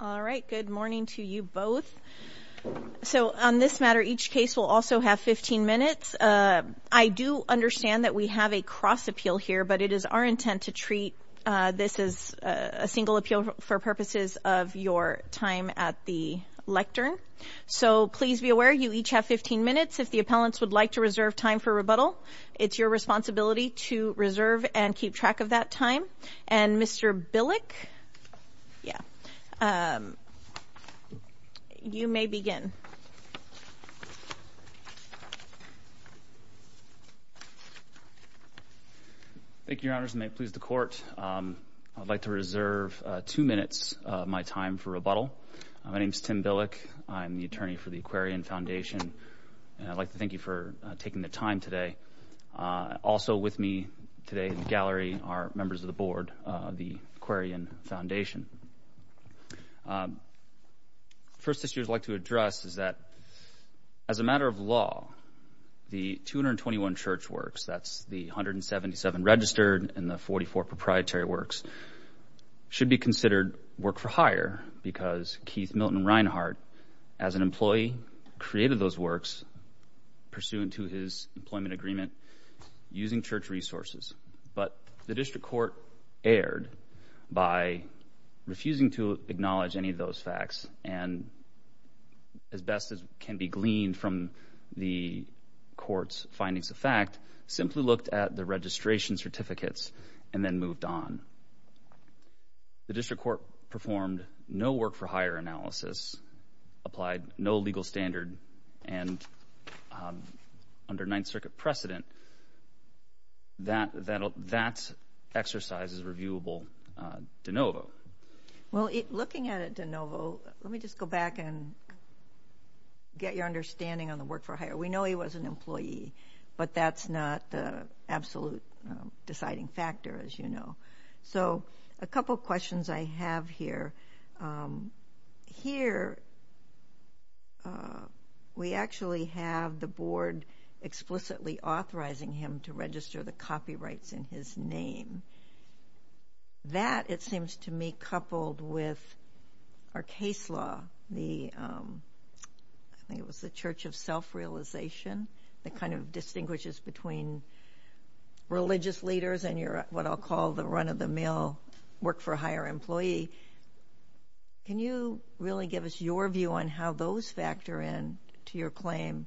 All right, good morning to you both. So on this matter, each case will also have 15 minutes. I do understand that we have a cross appeal here, but it is our intent to treat this as a single appeal for purposes of your time at the lectern. So please be aware you each have 15 minutes. If the appellants would like to reserve time for rebuttal, it's your responsibility to reserve and keep track of that time. And Mr. Billick, yeah, you may begin. Thank you, Your Honors, and may it please the court. I'd like to reserve two minutes of my time for rebuttal. My name's Tim Billick. I'm the attorney for the Aquarian Foundation, and I'd like to thank you for taking the time today. Also with me today in the gallery are members of the board of the Aquarian Foundation. First issue I'd like to address is that as a matter of law, the 221 church works, that's the 177 registered and the 44 proprietary works, should be considered work for hire because Keith Milton Reinhart, as an employee, created those works pursuant to his employment agreement using church resources. But the district court erred by refusing to acknowledge any of those facts and, as best as can be gleaned from the court's findings of fact, simply looked at the registration certificates and then moved on. The district court performed no work for hire analysis, applied no legal standard, and under Ninth Circuit precedent, that exercise is reviewable de novo. Well, looking at it de novo, let me just go back and get your understanding on the work for hire. We know he was an employee, but that's not the absolute deciding factor, as you know. So a couple questions I have here. Here, we actually have the board explicitly authorizing him to register the copyrights in his name. That, it seems to me, coupled with our case law, I think it was the Church of Self-Realization, that kind of distinguishes between religious leaders and your, what I'll call, the run-of-the-mill work for hire employee. Can you really give us your view on how those factor in to your claim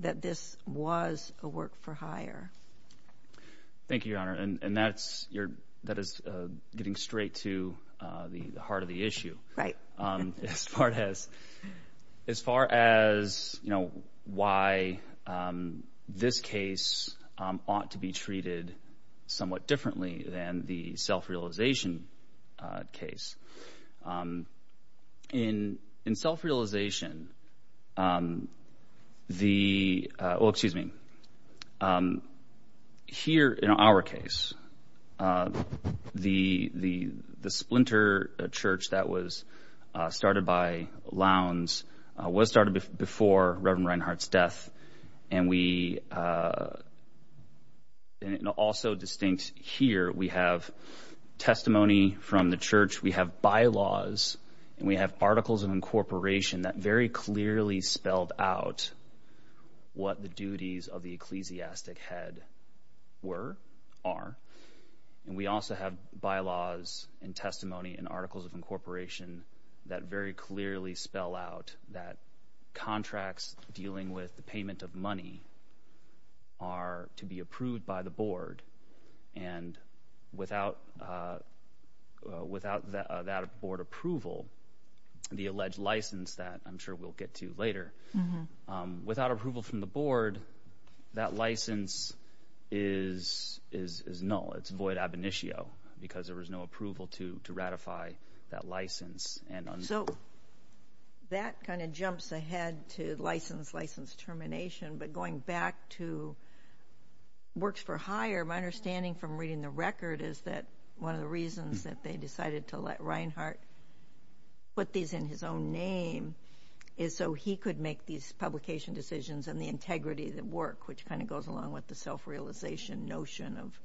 that this was a work for hire? Thank you, Your Honor, and that is getting straight to the heart of the issue. Right. As far as why this case ought to be treated somewhat differently than the self-realization case. In self-realization, the, well, excuse me. Here, in our case, the splinter church that was started by Lowndes was started before Reverend Reinhart's death, and we, and also distinct here, we have testimony from the church, we have bylaws, and we have articles of incorporation that very clearly spelled out what the duties of the ecclesiastic head were, are, and we also have bylaws and testimony and articles of incorporation that very clearly spell out that contracts dealing with the payment of money are to be approved by the board, and without that board approval, the alleged license that I'm sure we'll get to later, without approval from the board, that license is null, it's void ab initio, because there was no approval to ratify that license. So that kind of jumps ahead to license, license termination, but going back to works for hire, my understanding from reading the record is that one of the reasons that they decided to let Reinhart put these in his own name is so he could make these publication decisions and the integrity of the work, which kind of goes along with the self-realization notion of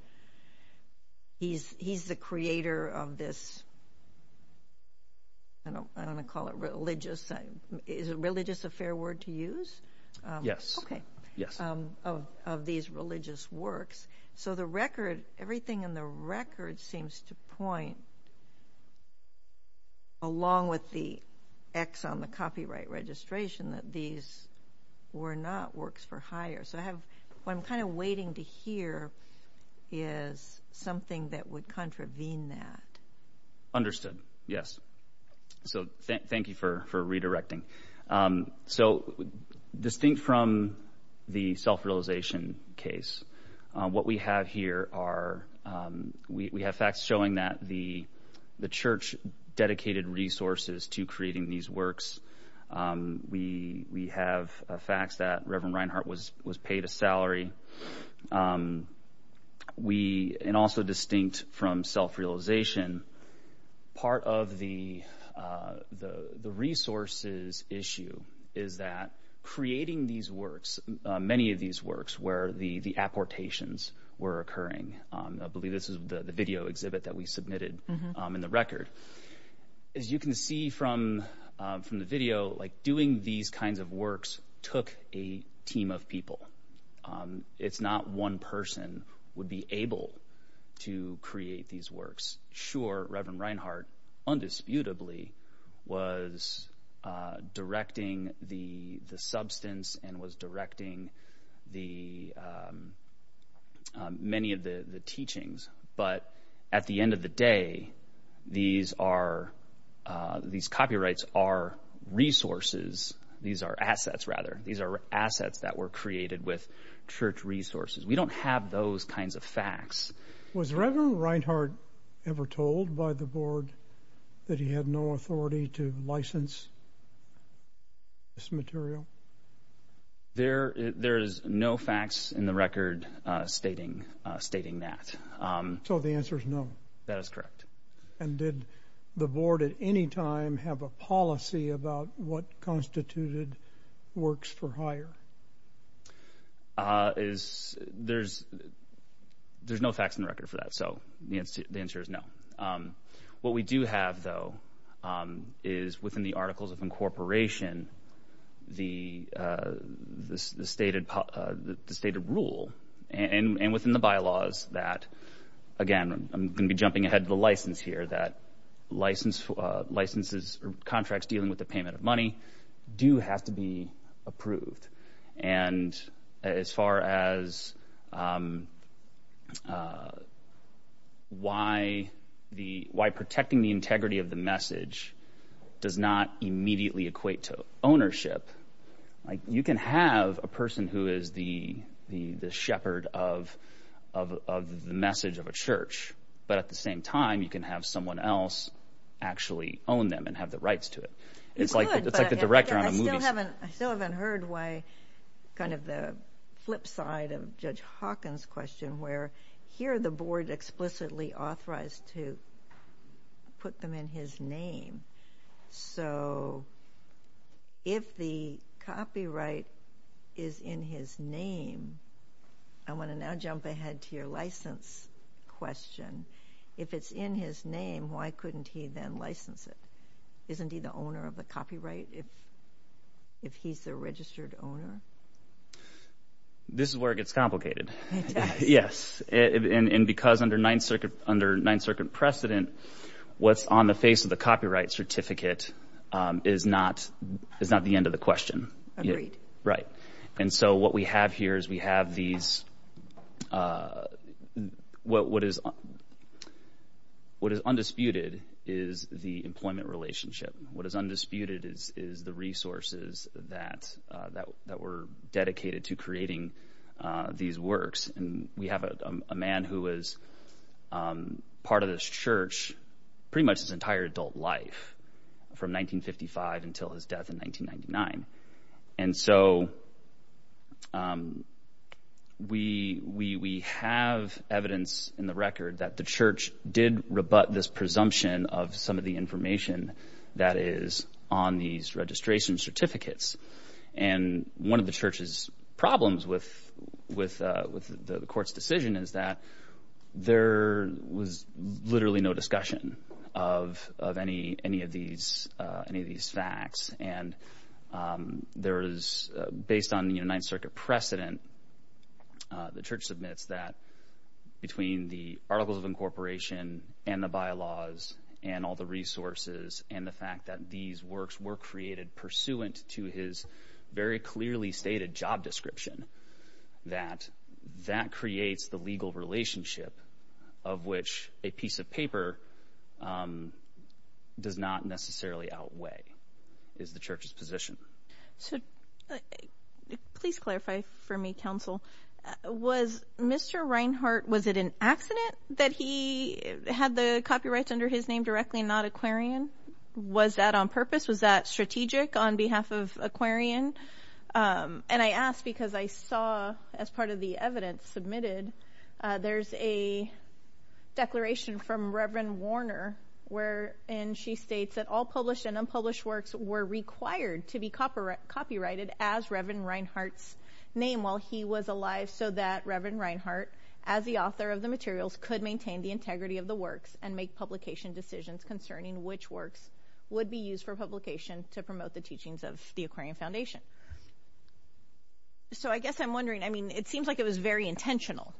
he's the creator of this, I don't wanna call it religious, is religious a fair word to use? Yes. Okay. Yes. Of these religious works, so the record, everything in the record seems to point along with the X on the copyright registration that these were not works for hire. So I have, what I'm kind of waiting to hear is something that would contravene that. Understood, yes. So thank you for redirecting. So distinct from the self-realization case, what we have here are, we have facts showing that the church dedicated resources to creating these works. We have facts that Reverend Reinhart was paid a salary. We, and also distinct from self-realization, part of the resources issue is that creating these works, many of these works where the apportations were occurring. I believe this is the video exhibit that we submitted in the record. As you can see from the video, like doing these kinds of works took a team of people. It's not one person would be able to create these works. Sure, Reverend Reinhart, undisputably, was directing the substance and was directing the, many of the teachings. But at the end of the day, these are, these copyrights are resources. These are assets rather. These are assets that were created with church resources. We don't have those kinds of facts. Was Reverend Reinhart ever told by the board that he had no authority to license this material? There is no facts in the record stating that. So the answer is no. That is correct. And did the board at any time have a policy about what constituted works for hire? Is, there's no facts in the record for that. So the answer is no. What we do have though, is within the Articles of Incorporation, the stated rule, and within the bylaws that, again, I'm gonna be jumping ahead to the license here, that licenses or contracts dealing with the payment of money do have to be approved. And as far as why protecting the integrity of the message does not immediately equate to ownership, like you can have a person who is the shepherd of the message of a church, but at the same time you can have someone else actually own them and have the rights to it. It's like the director on a movie set. I still haven't heard why, kind of the flip side of Judge Hawkins' question where here the board explicitly authorized to put them in his name. So if the copyright is in his name, I wanna now jump ahead to your license question. If it's in his name, why couldn't he then license it? Isn't he the owner of the copyright if he's the registered owner? This is where it gets complicated. Yes, and because under Ninth Circuit precedent, what's on the face of the copyright certificate is not the end of the question. Right, and so what we have here is we have these, what is undisputed is the employment relationship. What is undisputed is the resources that were dedicated to creating these works. And we have a man who was part of this church pretty much his entire adult life from 1955 until his death in 1999. And so we have evidence in the record that the church did rebut this presumption of some of the information that is on these registration certificates. And one of the church's problems with the court's decision is that there was literally no discussion of any of these facts. And based on Ninth Circuit precedent, the church submits that between the articles of incorporation and the bylaws and all the resources and the fact that these works were created pursuant to his very clearly stated job description, that that creates the legal relationship of which a piece of paper does not necessarily outweigh is the church's position. So please clarify for me, counsel, was Mr. Reinhart, was it an accident that he had the copyrights under his name directly and not Aquarian? Was that on purpose? Was that strategic on behalf of Aquarian? And I asked because I saw as part of the evidence submitted, there's a declaration from Reverend Warner wherein she states that all published and unpublished works were required to be copyrighted as Reverend Reinhart's name while he was alive so that Reverend Reinhart as the author of the materials could maintain the integrity of the works and make publication decisions concerning which works would be used for publication to promote the teachings of the Aquarian Foundation. So I guess I'm wondering, I mean, it seems like it was very intentional.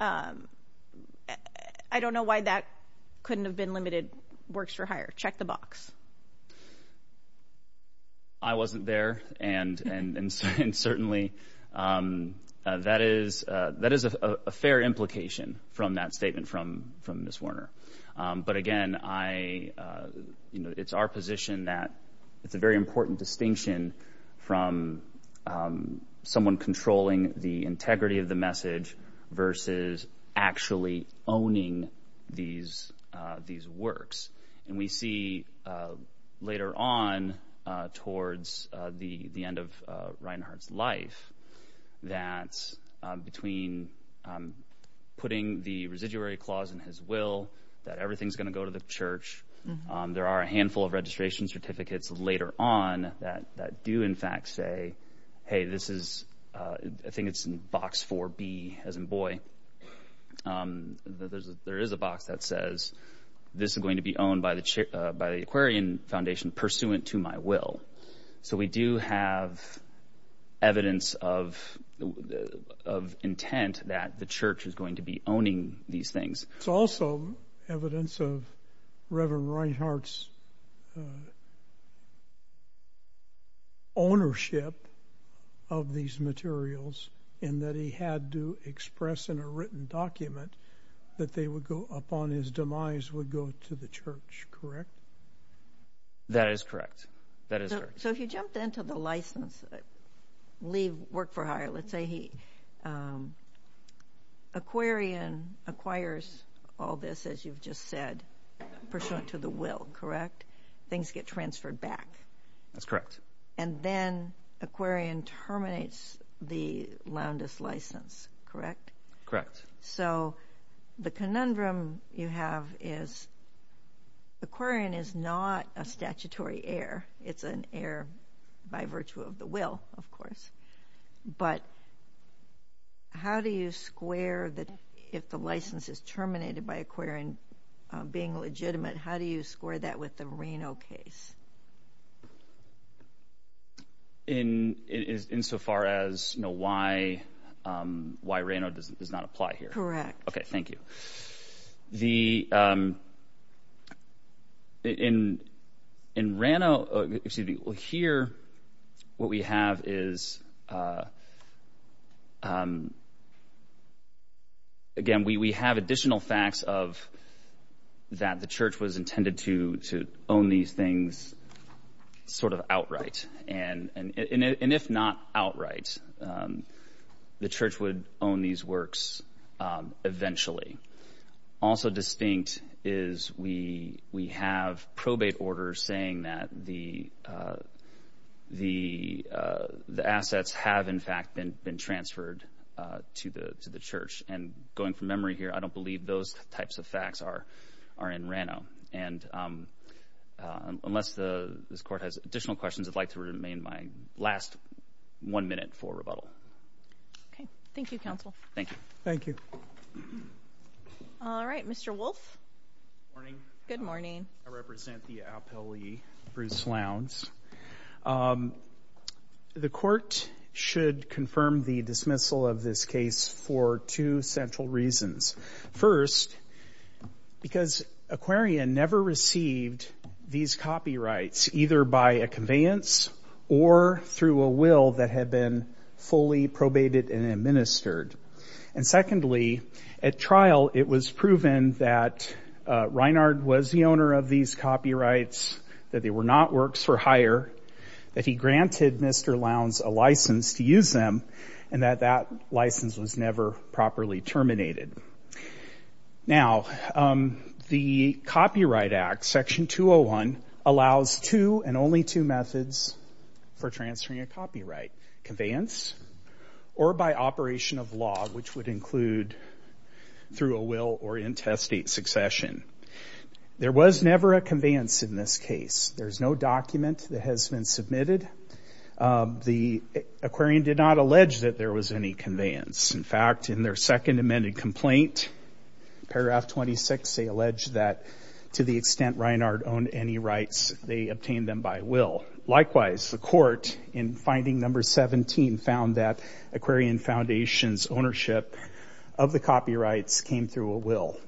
I don't know why that couldn't have been limited works for hire, check the box. I wasn't there and certainly that is a fair implication from that statement from Ms. Warner. But again, it's our position that it's a very important distinction from someone controlling the integrity of the message versus actually owning these works. And we see later on towards the end of Reinhart's life that between putting the residuary clause in his will, that everything's gonna go to the church, there are a handful of registration certificates later on that do in fact say, hey, this is, I think it's in box 4B as in boy. There is a box that says this is going to be owned by the Aquarian Foundation pursuant to my will. So we do have evidence of intent that the church is going to be owning these things. It's also evidence of Reverend Reinhart's ownership of these materials in that he had to express in a written document that they would go up on his demise would go to the church, correct? That is correct. That is correct. So if you jumped into the license, leave work for hire, let's say he, Aquarian acquires all this as you've just said, pursuant to the will, correct? Things get transferred back. That's correct. And then Aquarian terminates the Loundis license, correct? Correct. So the conundrum you have is Aquarian is not a statutory heir. It's an heir by virtue of the will, of course. But how do you square the, if the license is terminated by Aquarian being legitimate, how do you square that with the Reno case? In so far as, you know, why Reno does not apply here? Correct. Okay, thank you. The, in Reno, excuse me, well here, what we have is, again, we have additional facts of that the church was intended to own these things sort of outright. And if not outright, the church would own these works eventually. Also distinct is we have probate orders saying that the assets have in fact been transferred to the church. And going from memory here, I don't believe those types of facts are in Reno. And unless this court has additional questions, I'd like to remain my last one minute for rebuttal. Okay, thank you, counsel. Thank you. Thank you. All right, Mr. Wolf. Morning. Good morning. I represent the appellee, Bruce Lowndes. The court should confirm the dismissal of this case for two central reasons. First, because Aquarian never received these copyrights either by a conveyance or through a will that had been fully probated and administered. And secondly, at trial it was proven that Reinhard was the owner of these copyrights, that they were not works for hire, that he granted Mr. Lowndes a license to use them, and that that license was never properly terminated. Now, the Copyright Act, Section 201, allows two and only two methods for transferring a copyright, conveyance or by operation of law, which would include through a will or intestate succession. There was never a conveyance in this case. There's no document that has been submitted. The Aquarian did not allege that there was any conveyance. In fact, in their second amended complaint, paragraph 26, they allege that to the extent Reinhard owned any rights, they obtained them by will. Likewise, the court in finding number 17 found that Aquarian Foundation's ownership of the copyrights came through a will.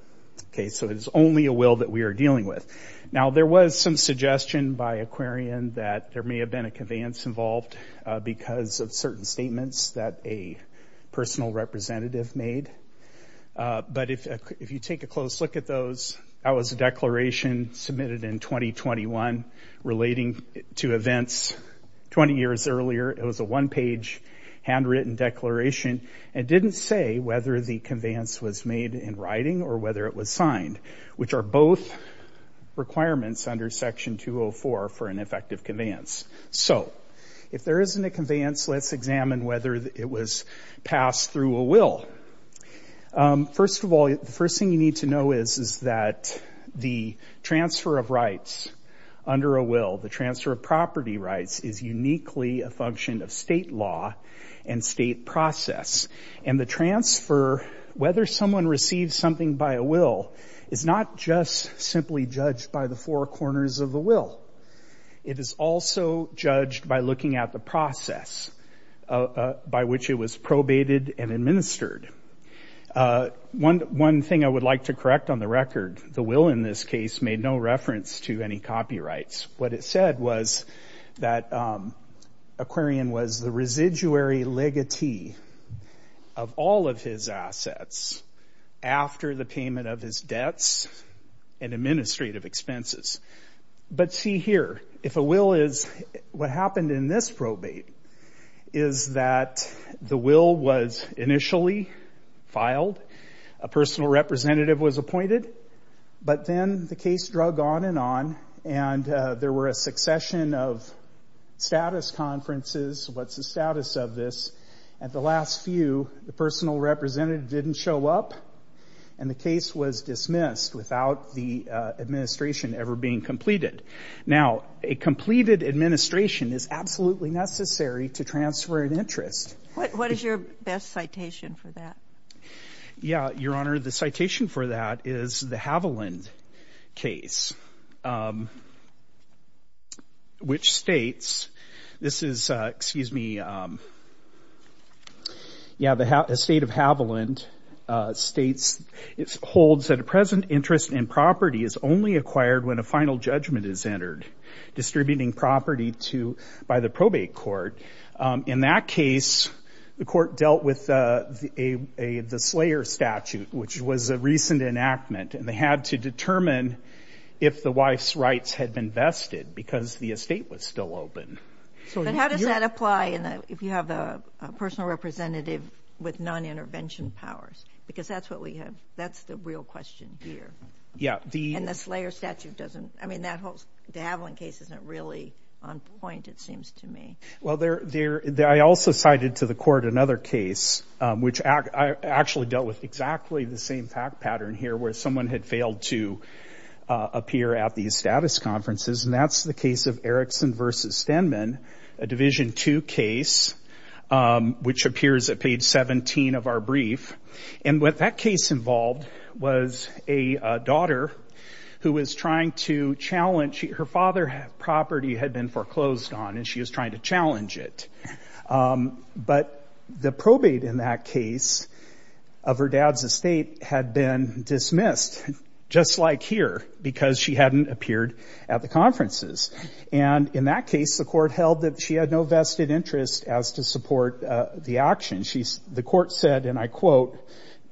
Okay, so it is only a will that we are dealing with. Now, there was some suggestion by Aquarian that there may have been a conveyance involved because of certain statements that a personal representative made. But if you take a close look at those, that was a declaration submitted in 2021 relating to events 20 years earlier. It was a one-page handwritten declaration and didn't say whether the conveyance was made in writing or whether it was signed, which are both requirements under Section 204 for an effective conveyance. So if there isn't a conveyance, let's examine whether it was passed through a will. First of all, the first thing you need to know is that the transfer of rights under a will, the transfer of property rights is uniquely a function of state law and state process. And the transfer, whether someone receives something by a will is not just simply judged by the four corners of the will. It is also judged by looking at the process by which it was probated and administered. One thing I would like to correct on the record, the will in this case made no reference to any copyrights. What it said was that Aquarian was the residuary legatee of all of his assets after the payment of his debts and administrative expenses. But see here, if a will is, what happened in this probate is that the will was initially filed, a personal representative was appointed, but then the case drug on and on, and there were a succession of status conferences, what's the status of this? At the last few, the personal representative didn't show up, and the case was dismissed without the administration ever being completed. Now, a completed administration is absolutely necessary to transfer an interest. What is your best citation for that? Yeah, Your Honor, the citation for that is the Haviland case, which states, this is, excuse me, yeah, the state of Haviland states, it holds that a present interest in property is only acquired when a final judgment is entered, distributing property to, by the probate court. In that case, the court dealt with the Slayer statute, which was a recent enactment, and they had to determine if the wife's rights had been vested because the estate was still open. So you- But how does that apply if you have a personal representative with non-intervention powers? Because that's what we have, that's the real question here. Yeah, the- And the Slayer statute doesn't, I mean, the Haviland case isn't really on point, it seems to me. Well, I also cited to the court another case, which I actually dealt with exactly the same fact pattern here, where someone had failed to appear at the status conferences, and that's the case of Erickson v. Stenman, a Division II case, which appears at page 17 of our brief. And what that case involved was a daughter who was trying to challenge, her father property had been foreclosed on, and she was trying to challenge it. But the probate in that case of her dad's estate had been dismissed, just like here, because she hadn't appeared at the conferences. And in that case, the court held that she had no vested interest as to support the action. The court said, and I quote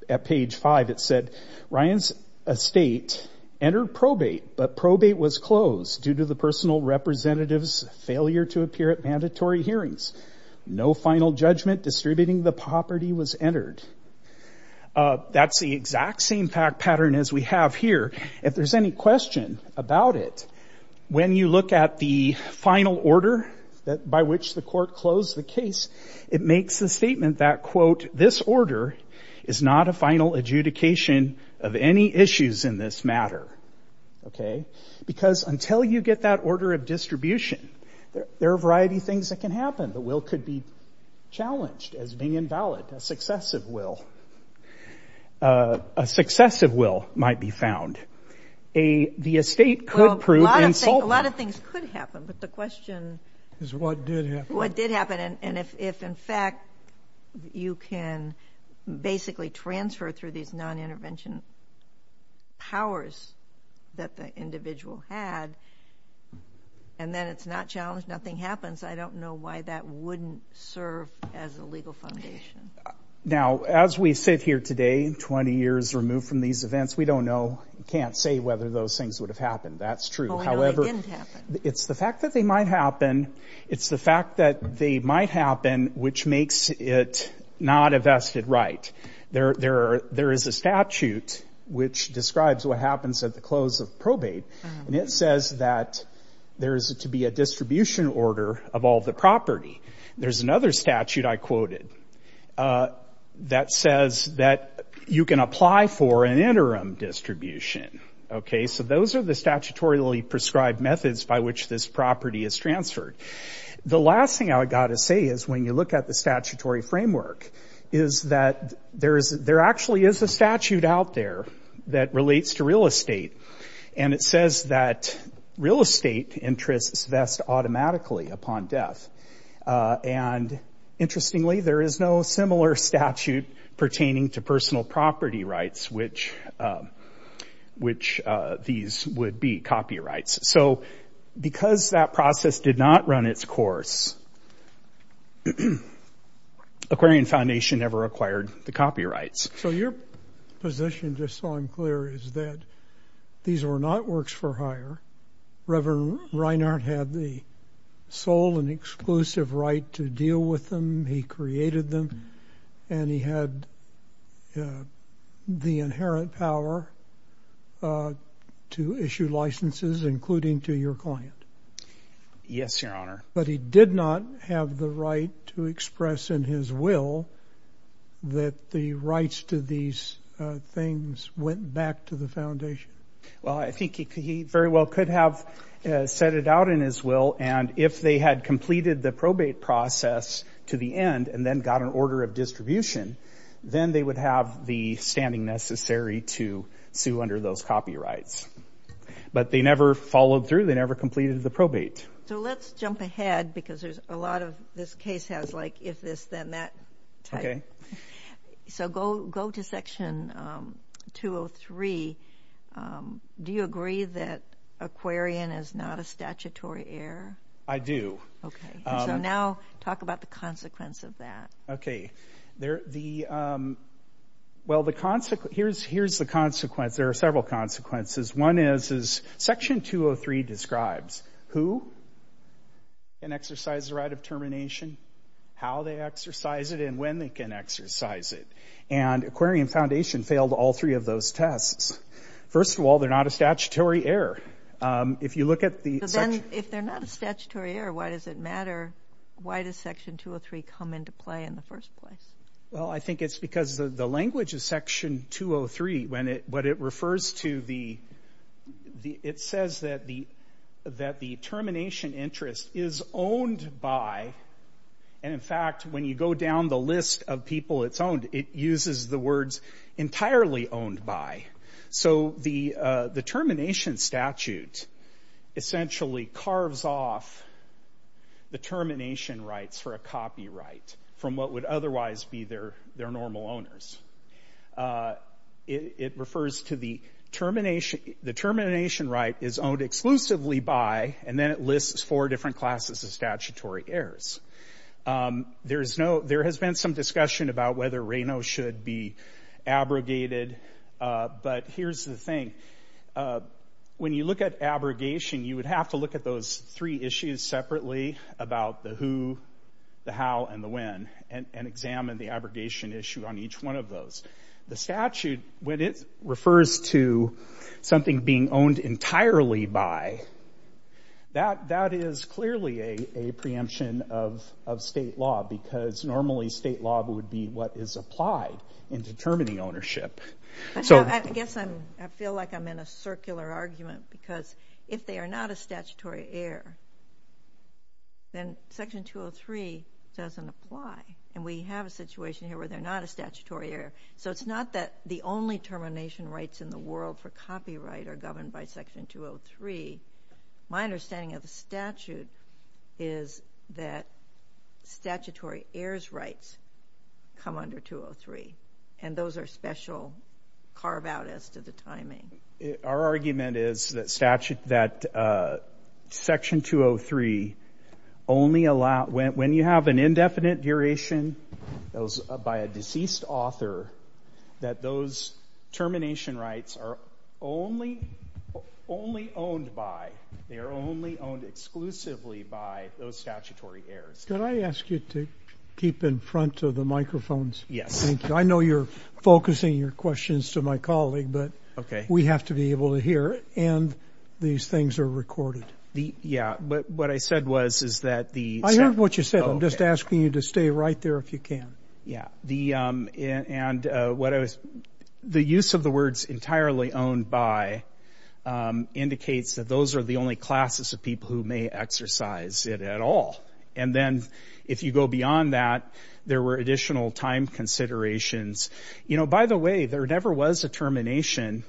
at page five, it said, Ryan's estate entered probate, but probate was closed due to the personal representative's failure to appear at mandatory hearings. No final judgment distributing the property was entered. That's the exact same fact pattern as we have here. If there's any question about it, when you look at the final order by which the court closed the case, it makes the statement that quote, this order is not a final adjudication of any issues in this matter, okay? Because until you get that order of distribution, there are a variety of things that can happen. The will could be challenged as being invalid, a successive will. A successive will might be found. A, the estate could prove insulting. A lot of things could happen, but the question is what did happen. And if in fact, you can basically transfer through these non-intervention powers that the individual had, and then it's not challenged, nothing happens. I don't know why that wouldn't serve as a legal foundation. Now, as we sit here today, 20 years removed from these events, we don't know, can't say whether those things would have happened. That's true. However, it's the fact that they might happen. It's the fact that they might happen, which makes it not a vested right. There is a statute which describes what happens at the close of probate. And it says that there is to be a distribution order of all the property. There's another statute I quoted that says that you can apply for an interim distribution. Okay, so those are the statutorily prescribed methods by which this property is transferred. The last thing I would gotta say is when you look at the statutory framework is that there actually is a statute out there that relates to real estate. And it says that real estate interests vest automatically upon death. And interestingly, there is no similar statute pertaining to personal property rights, which these would be copyrights. So because that process did not run its course, Aquarian Foundation never acquired the copyrights. So your position, just so I'm clear, is that these were not works for hire. Reverend Reinhardt had the sole and exclusive right to deal with them. He created them. And he had the inherent power to issue licenses, including to your client. Yes, Your Honor. But he did not have the right to express in his will that the rights to these things went back to the foundation. Well, I think he very well could have set it out in his will and if they had completed the probate process to the end and then got an order of distribution, then they would have the standing necessary to sue under those copyrights. But they never followed through. They never completed the probate. So let's jump ahead because there's a lot of, this case has like if this, then that type. Okay. So go to section 203. Do you agree that Aquarian is not a statutory error? I do. Okay. So now talk about the consequence of that. Well, here's the consequence. There are several consequences. One is, section 203 describes who can exercise the right of termination, how they exercise it, and when they can exercise it. And Aquarian Foundation failed all three of those tests. First of all, they're not a statutory error. If you look at the- But then, if they're not a statutory error, why does it matter? Why does section 203 come into play in the first place? Well, I think it's because the language of section 203, when it, what it refers to the, it says that the termination interest is owned by, and in fact, when you go down the list of people it's owned, it uses the words entirely owned by. So the termination statute essentially carves off the termination rights for a copyright from what would otherwise be their normal owners. It refers to the termination, the termination right is owned exclusively by, and then it lists four different classes of statutory errors. There's no, there has been some discussion about whether Reno should be abrogated, but here's the thing, when you look at abrogation, you would have to look at those three issues separately about the who, the how, and the when, and examine the abrogation issue on each one of those. The statute, when it refers to something being owned entirely by, that is clearly a preemption of state law because normally state law would be what is applied in determining ownership. So- I guess I'm, I feel like I'm in a circular argument because if they are not a statutory error, then section 203 doesn't apply. And we have a situation here where they're not a statutory error. So it's not that the only termination rights in the world for copyright are governed by section 203. My understanding of the statute is that statutory errors rights come under 203. And those are special carve out as to the timing. Our argument is that statute, that section 203, only allow, when you have an indefinite duration, that was by a deceased author, that those termination rights are only owned by, they are only owned exclusively by those statutory errors. Could I ask you to keep in front of the microphones? Yes. I know you're focusing your questions to my colleague, but we have to be able to hear, and these things are recorded. Yeah, but what I said was, is that the- I heard what you said. I'm just asking you to stay right there if you can. Yeah, and the use of the words entirely owned by indicates that those are the only classes of people who may exercise it at all. And then if you go beyond that, there were additional time considerations. You know, by the way, there never was a termination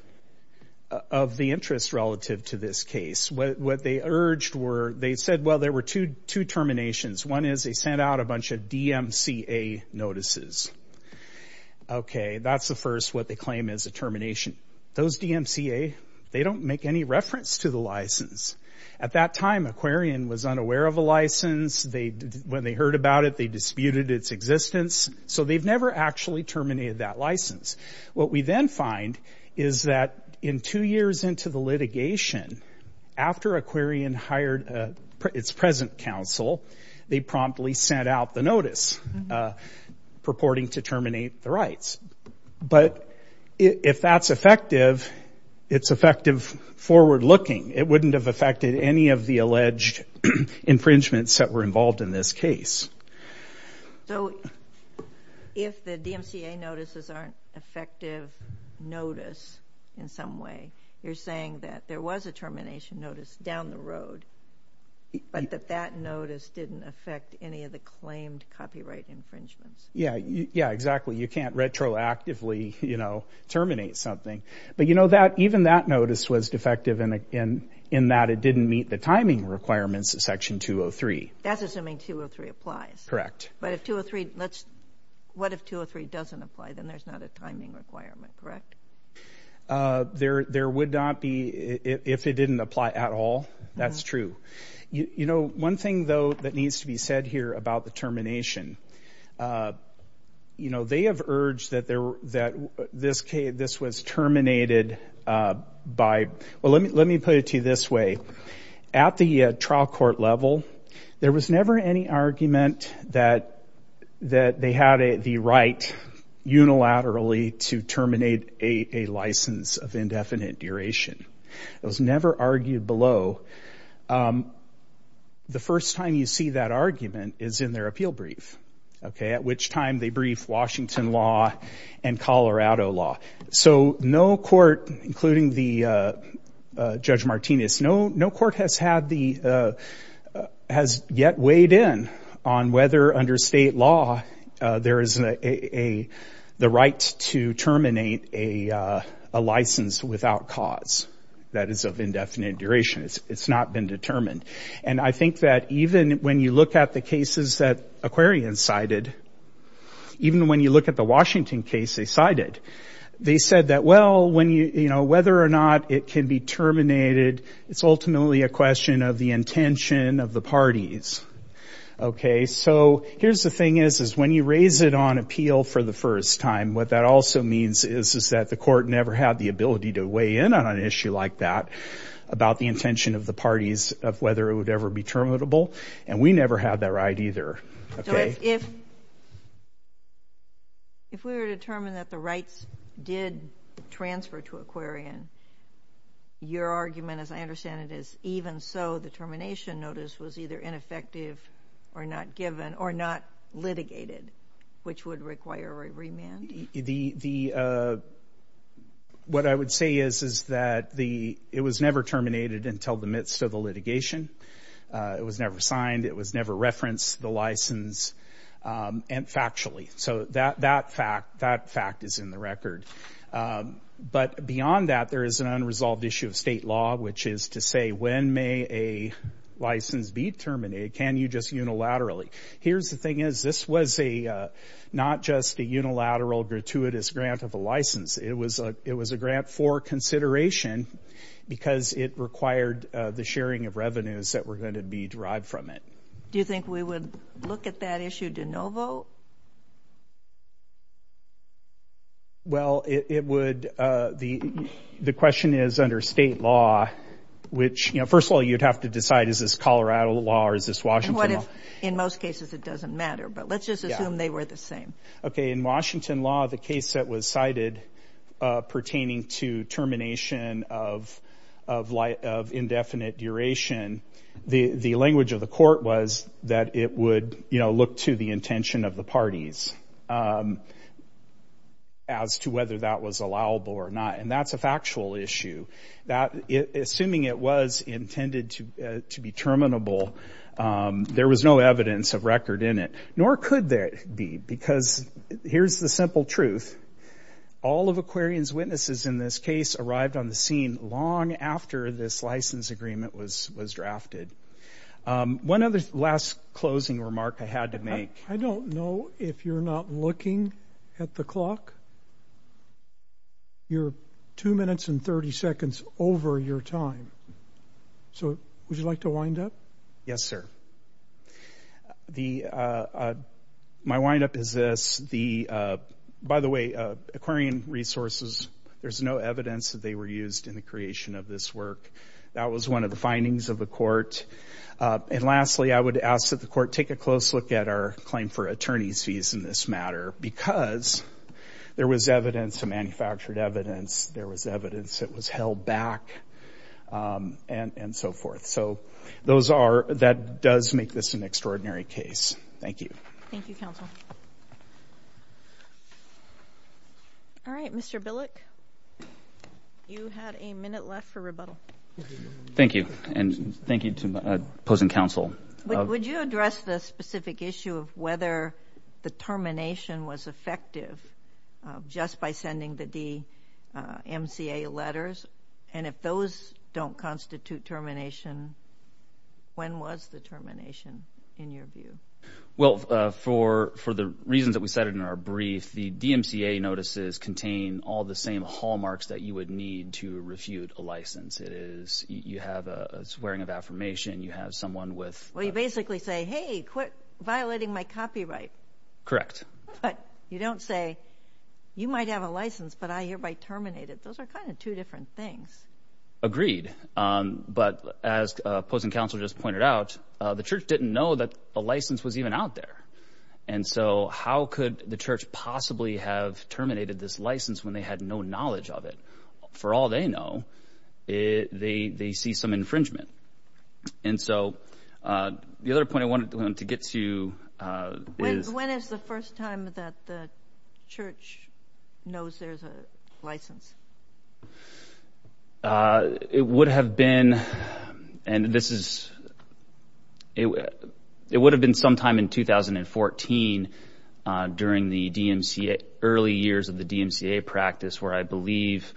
of the interest relative to this case. What they urged were, they said, well, there were two terminations. One is they sent out a bunch of DMCA notices. Okay, that's the first what they claim is a termination. Those DMCA, they don't make any reference to the license. At that time, Aquarian was unaware of a license. When they heard about it, they disputed its existence. So they've never actually terminated that license. What we then find is that in two years into the litigation, after Aquarian hired its present counsel, they promptly sent out the notice purporting to terminate the rights. But if that's effective, it's effective forward-looking. It wouldn't have affected any of the alleged infringements that were involved in this case. So if the DMCA notices aren't effective notice in some way, you're saying that there was a termination notice down the road, but that that notice didn't affect any of the claimed copyright infringements. Yeah, yeah, exactly. You can't retroactively terminate something. But you know, even that notice was defective in that it didn't meet the timing requirements of Section 203. That's assuming 203 applies. Correct. But if 203, what if 203 doesn't apply? Then there's not a timing requirement, correct? There would not be if it didn't apply at all. That's true. You know, one thing though, that needs to be said here about the termination. You know, they have urged that this was terminated by, well, let me put it to you this way. At the trial court level, there was never any argument that they had the right unilaterally to terminate a license of indefinite duration. It was never argued below. The first time you see that argument is in their appeal brief, okay? At which time they brief Washington law and Colorado law. So no court, including the Judge Martinez, no court has yet weighed in on whether under state law, there is the right to terminate a license without cause that is of indefinite duration. It's not been determined. And I think that even when you look at the cases that Aquarian cited, even when you look at the Washington case they cited, they said that, well, whether or not it can be terminated, it's ultimately a question of the intention of the parties. Okay, so here's the thing is, when you raise it on appeal for the first time, what that also means is that the court never had the ability to weigh in on an issue like that about the intention of the parties of whether it would ever be terminable. And we never had that right either, okay? If we were determined that the rights did transfer to Aquarian, your argument, as I understand it, is even so the termination notice was either ineffective or not given or not litigated, which would require a remand? What I would say is that it was never terminated until the midst of the litigation. It was never signed. It was never referenced, the license, and factually. So that fact is in the record. But beyond that, there is an unresolved issue of state law, which is to say, when may a license be terminated? Can you just unilaterally? Here's the thing is, this was not just a unilateral, gratuitous grant of a license. It was a grant for consideration because it required the sharing of revenues that were gonna be derived from it. Do you think we would look at that issue de novo? Well, it would, the question is under state law, which, first of all, you'd have to decide, is this Colorado law or is this Washington law? In most cases, it doesn't matter, but let's just assume they were the same. Okay, in Washington law, the case that was cited pertaining to termination of indefinite duration, the language of the court was that it would look to the intention of the parties as to whether that was allowable or not. And that's a factual issue. That, assuming it was intended to be terminable, there was no evidence of record in it, nor could there be, because here's the simple truth. All of Aquarian's witnesses in this case arrived on the scene long after this license agreement was drafted. One other last closing remark I had to make. I don't know if you're not looking at the clock. You're two minutes and 30 seconds over your time. So would you like to wind up? Yes, sir. My windup is this. The, by the way, Aquarian Resources, there's no evidence that they were used in the creation of this work. That was one of the findings of the court. And lastly, I would ask that the court take a close look at our claim for attorney's fees in this matter, because there was evidence, manufactured evidence, there was evidence that was held back, and so forth. So those are, that does make this an extraordinary case. Thank you. Thank you, counsel. All right, Mr. Billick, you had a minute left for rebuttal. Thank you, and thank you to opposing counsel. Would you address the specific issue of whether the termination was effective just by sending the DMCA letters? And if those don't constitute termination, when was the termination in your view? Well, for the reasons that we cited in our brief, the DMCA notices contain all the same hallmarks that you would need to refute a license. It is, you have a swearing of affirmation, you have someone with- Well, you basically say, hey, quit violating my copyright. But you don't say, you might have a license, but I hereby terminate it. Those are kind of two different things. Agreed, but as opposing counsel just pointed out, the church didn't know that the license was even out there. And so how could the church possibly have terminated this license when they had no knowledge of it? For all they know, they see some infringement. And so, the other point I wanted to get to is- When is the first time that the church knows there's a license? It would have been, and this is, it would have been sometime in 2014 during the early years of the DMCA practice where I believe,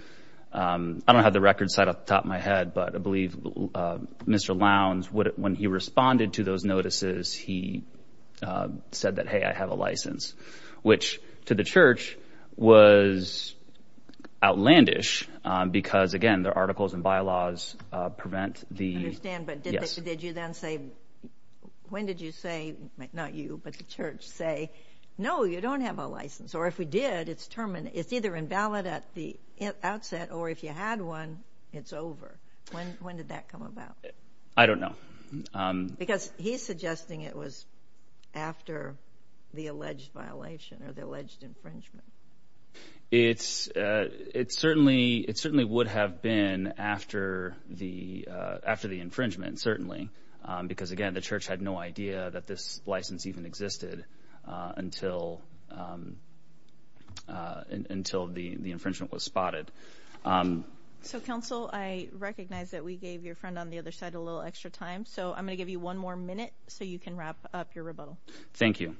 I don't have the record site top of my head, but I believe Mr. Lowndes, when he responded to those notices, he said that, hey, I have a license, which to the church was outlandish because again, their articles and bylaws prevent the- I understand, but did you then say, when did you say, not you, but the church say, no, you don't have a license. Or if we did, it's either invalid at the outset or if you had one, it's over. When did that come about? I don't know. Because he's suggesting it was after the alleged violation or the alleged infringement. It certainly would have been after the infringement, certainly, because again, the church had no idea that this license even existed until the infringement was spotted. So council, I recognize that we gave your friend on the other side a little extra time. So I'm going to give you one more minute so you can wrap up your rebuttal. Thank you.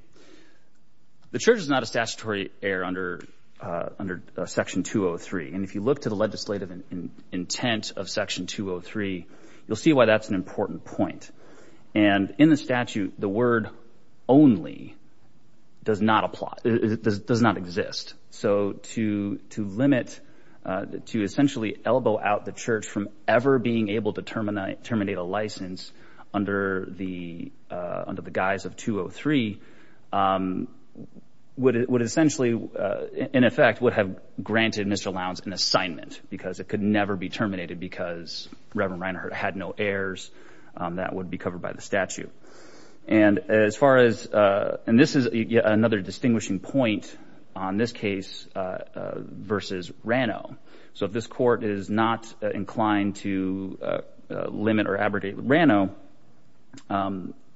The church is not a statutory heir under section 203. And if you look to the legislative intent of section 203, you'll see why that's an important point. And in the statute, the word only does not exist. So to limit, to essentially elbow out the church from ever being able to terminate a license under the guise of 203 would essentially, in effect, would have granted Mr. Lowndes an assignment because it could never be terminated because Reverend Reinhart had no heirs. That would be covered by the statute. And as far as, and this is another distinguishing point on this case versus Rano. So if this court is not inclined to limit or abrogate Rano,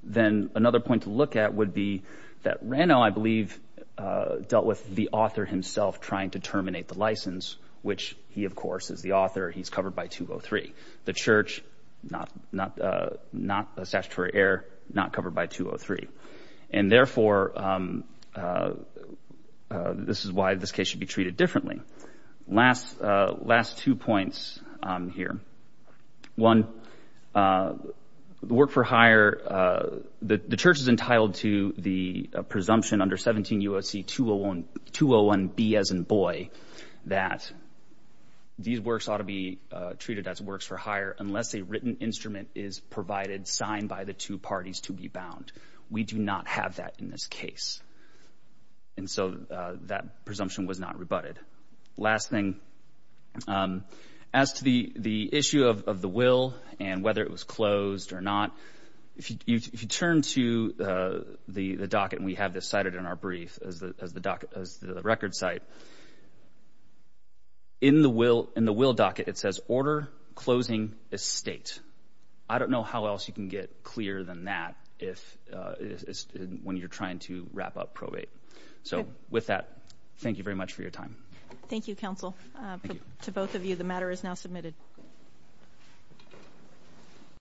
then another point to look at would be that Rano, I believe, dealt with the author himself trying to terminate the license, which he, of course, is the author. He's covered by 203. The church, not a statutory heir, not covered by 203. And therefore, this is why this case should be treated differently. Last two points here. One, the work for hire, the church is entitled to the presumption under 17 U.S.C. 201B as in boy, that these works ought to be treated as works for hire unless a written instrument is provided, signed by the two parties to be bound. We do not have that in this case. And so that presumption was not rebutted. Last thing. As to the issue of the will and whether it was closed or not, if you turn to the docket, and we have this cited in our brief as the record site, in the will docket, it says order closing estate. I don't know how else you can get clearer than that when you're trying to wrap up probate. So with that, thank you very much for your time. Thank you, counsel. To both of you, the matter is now submitted.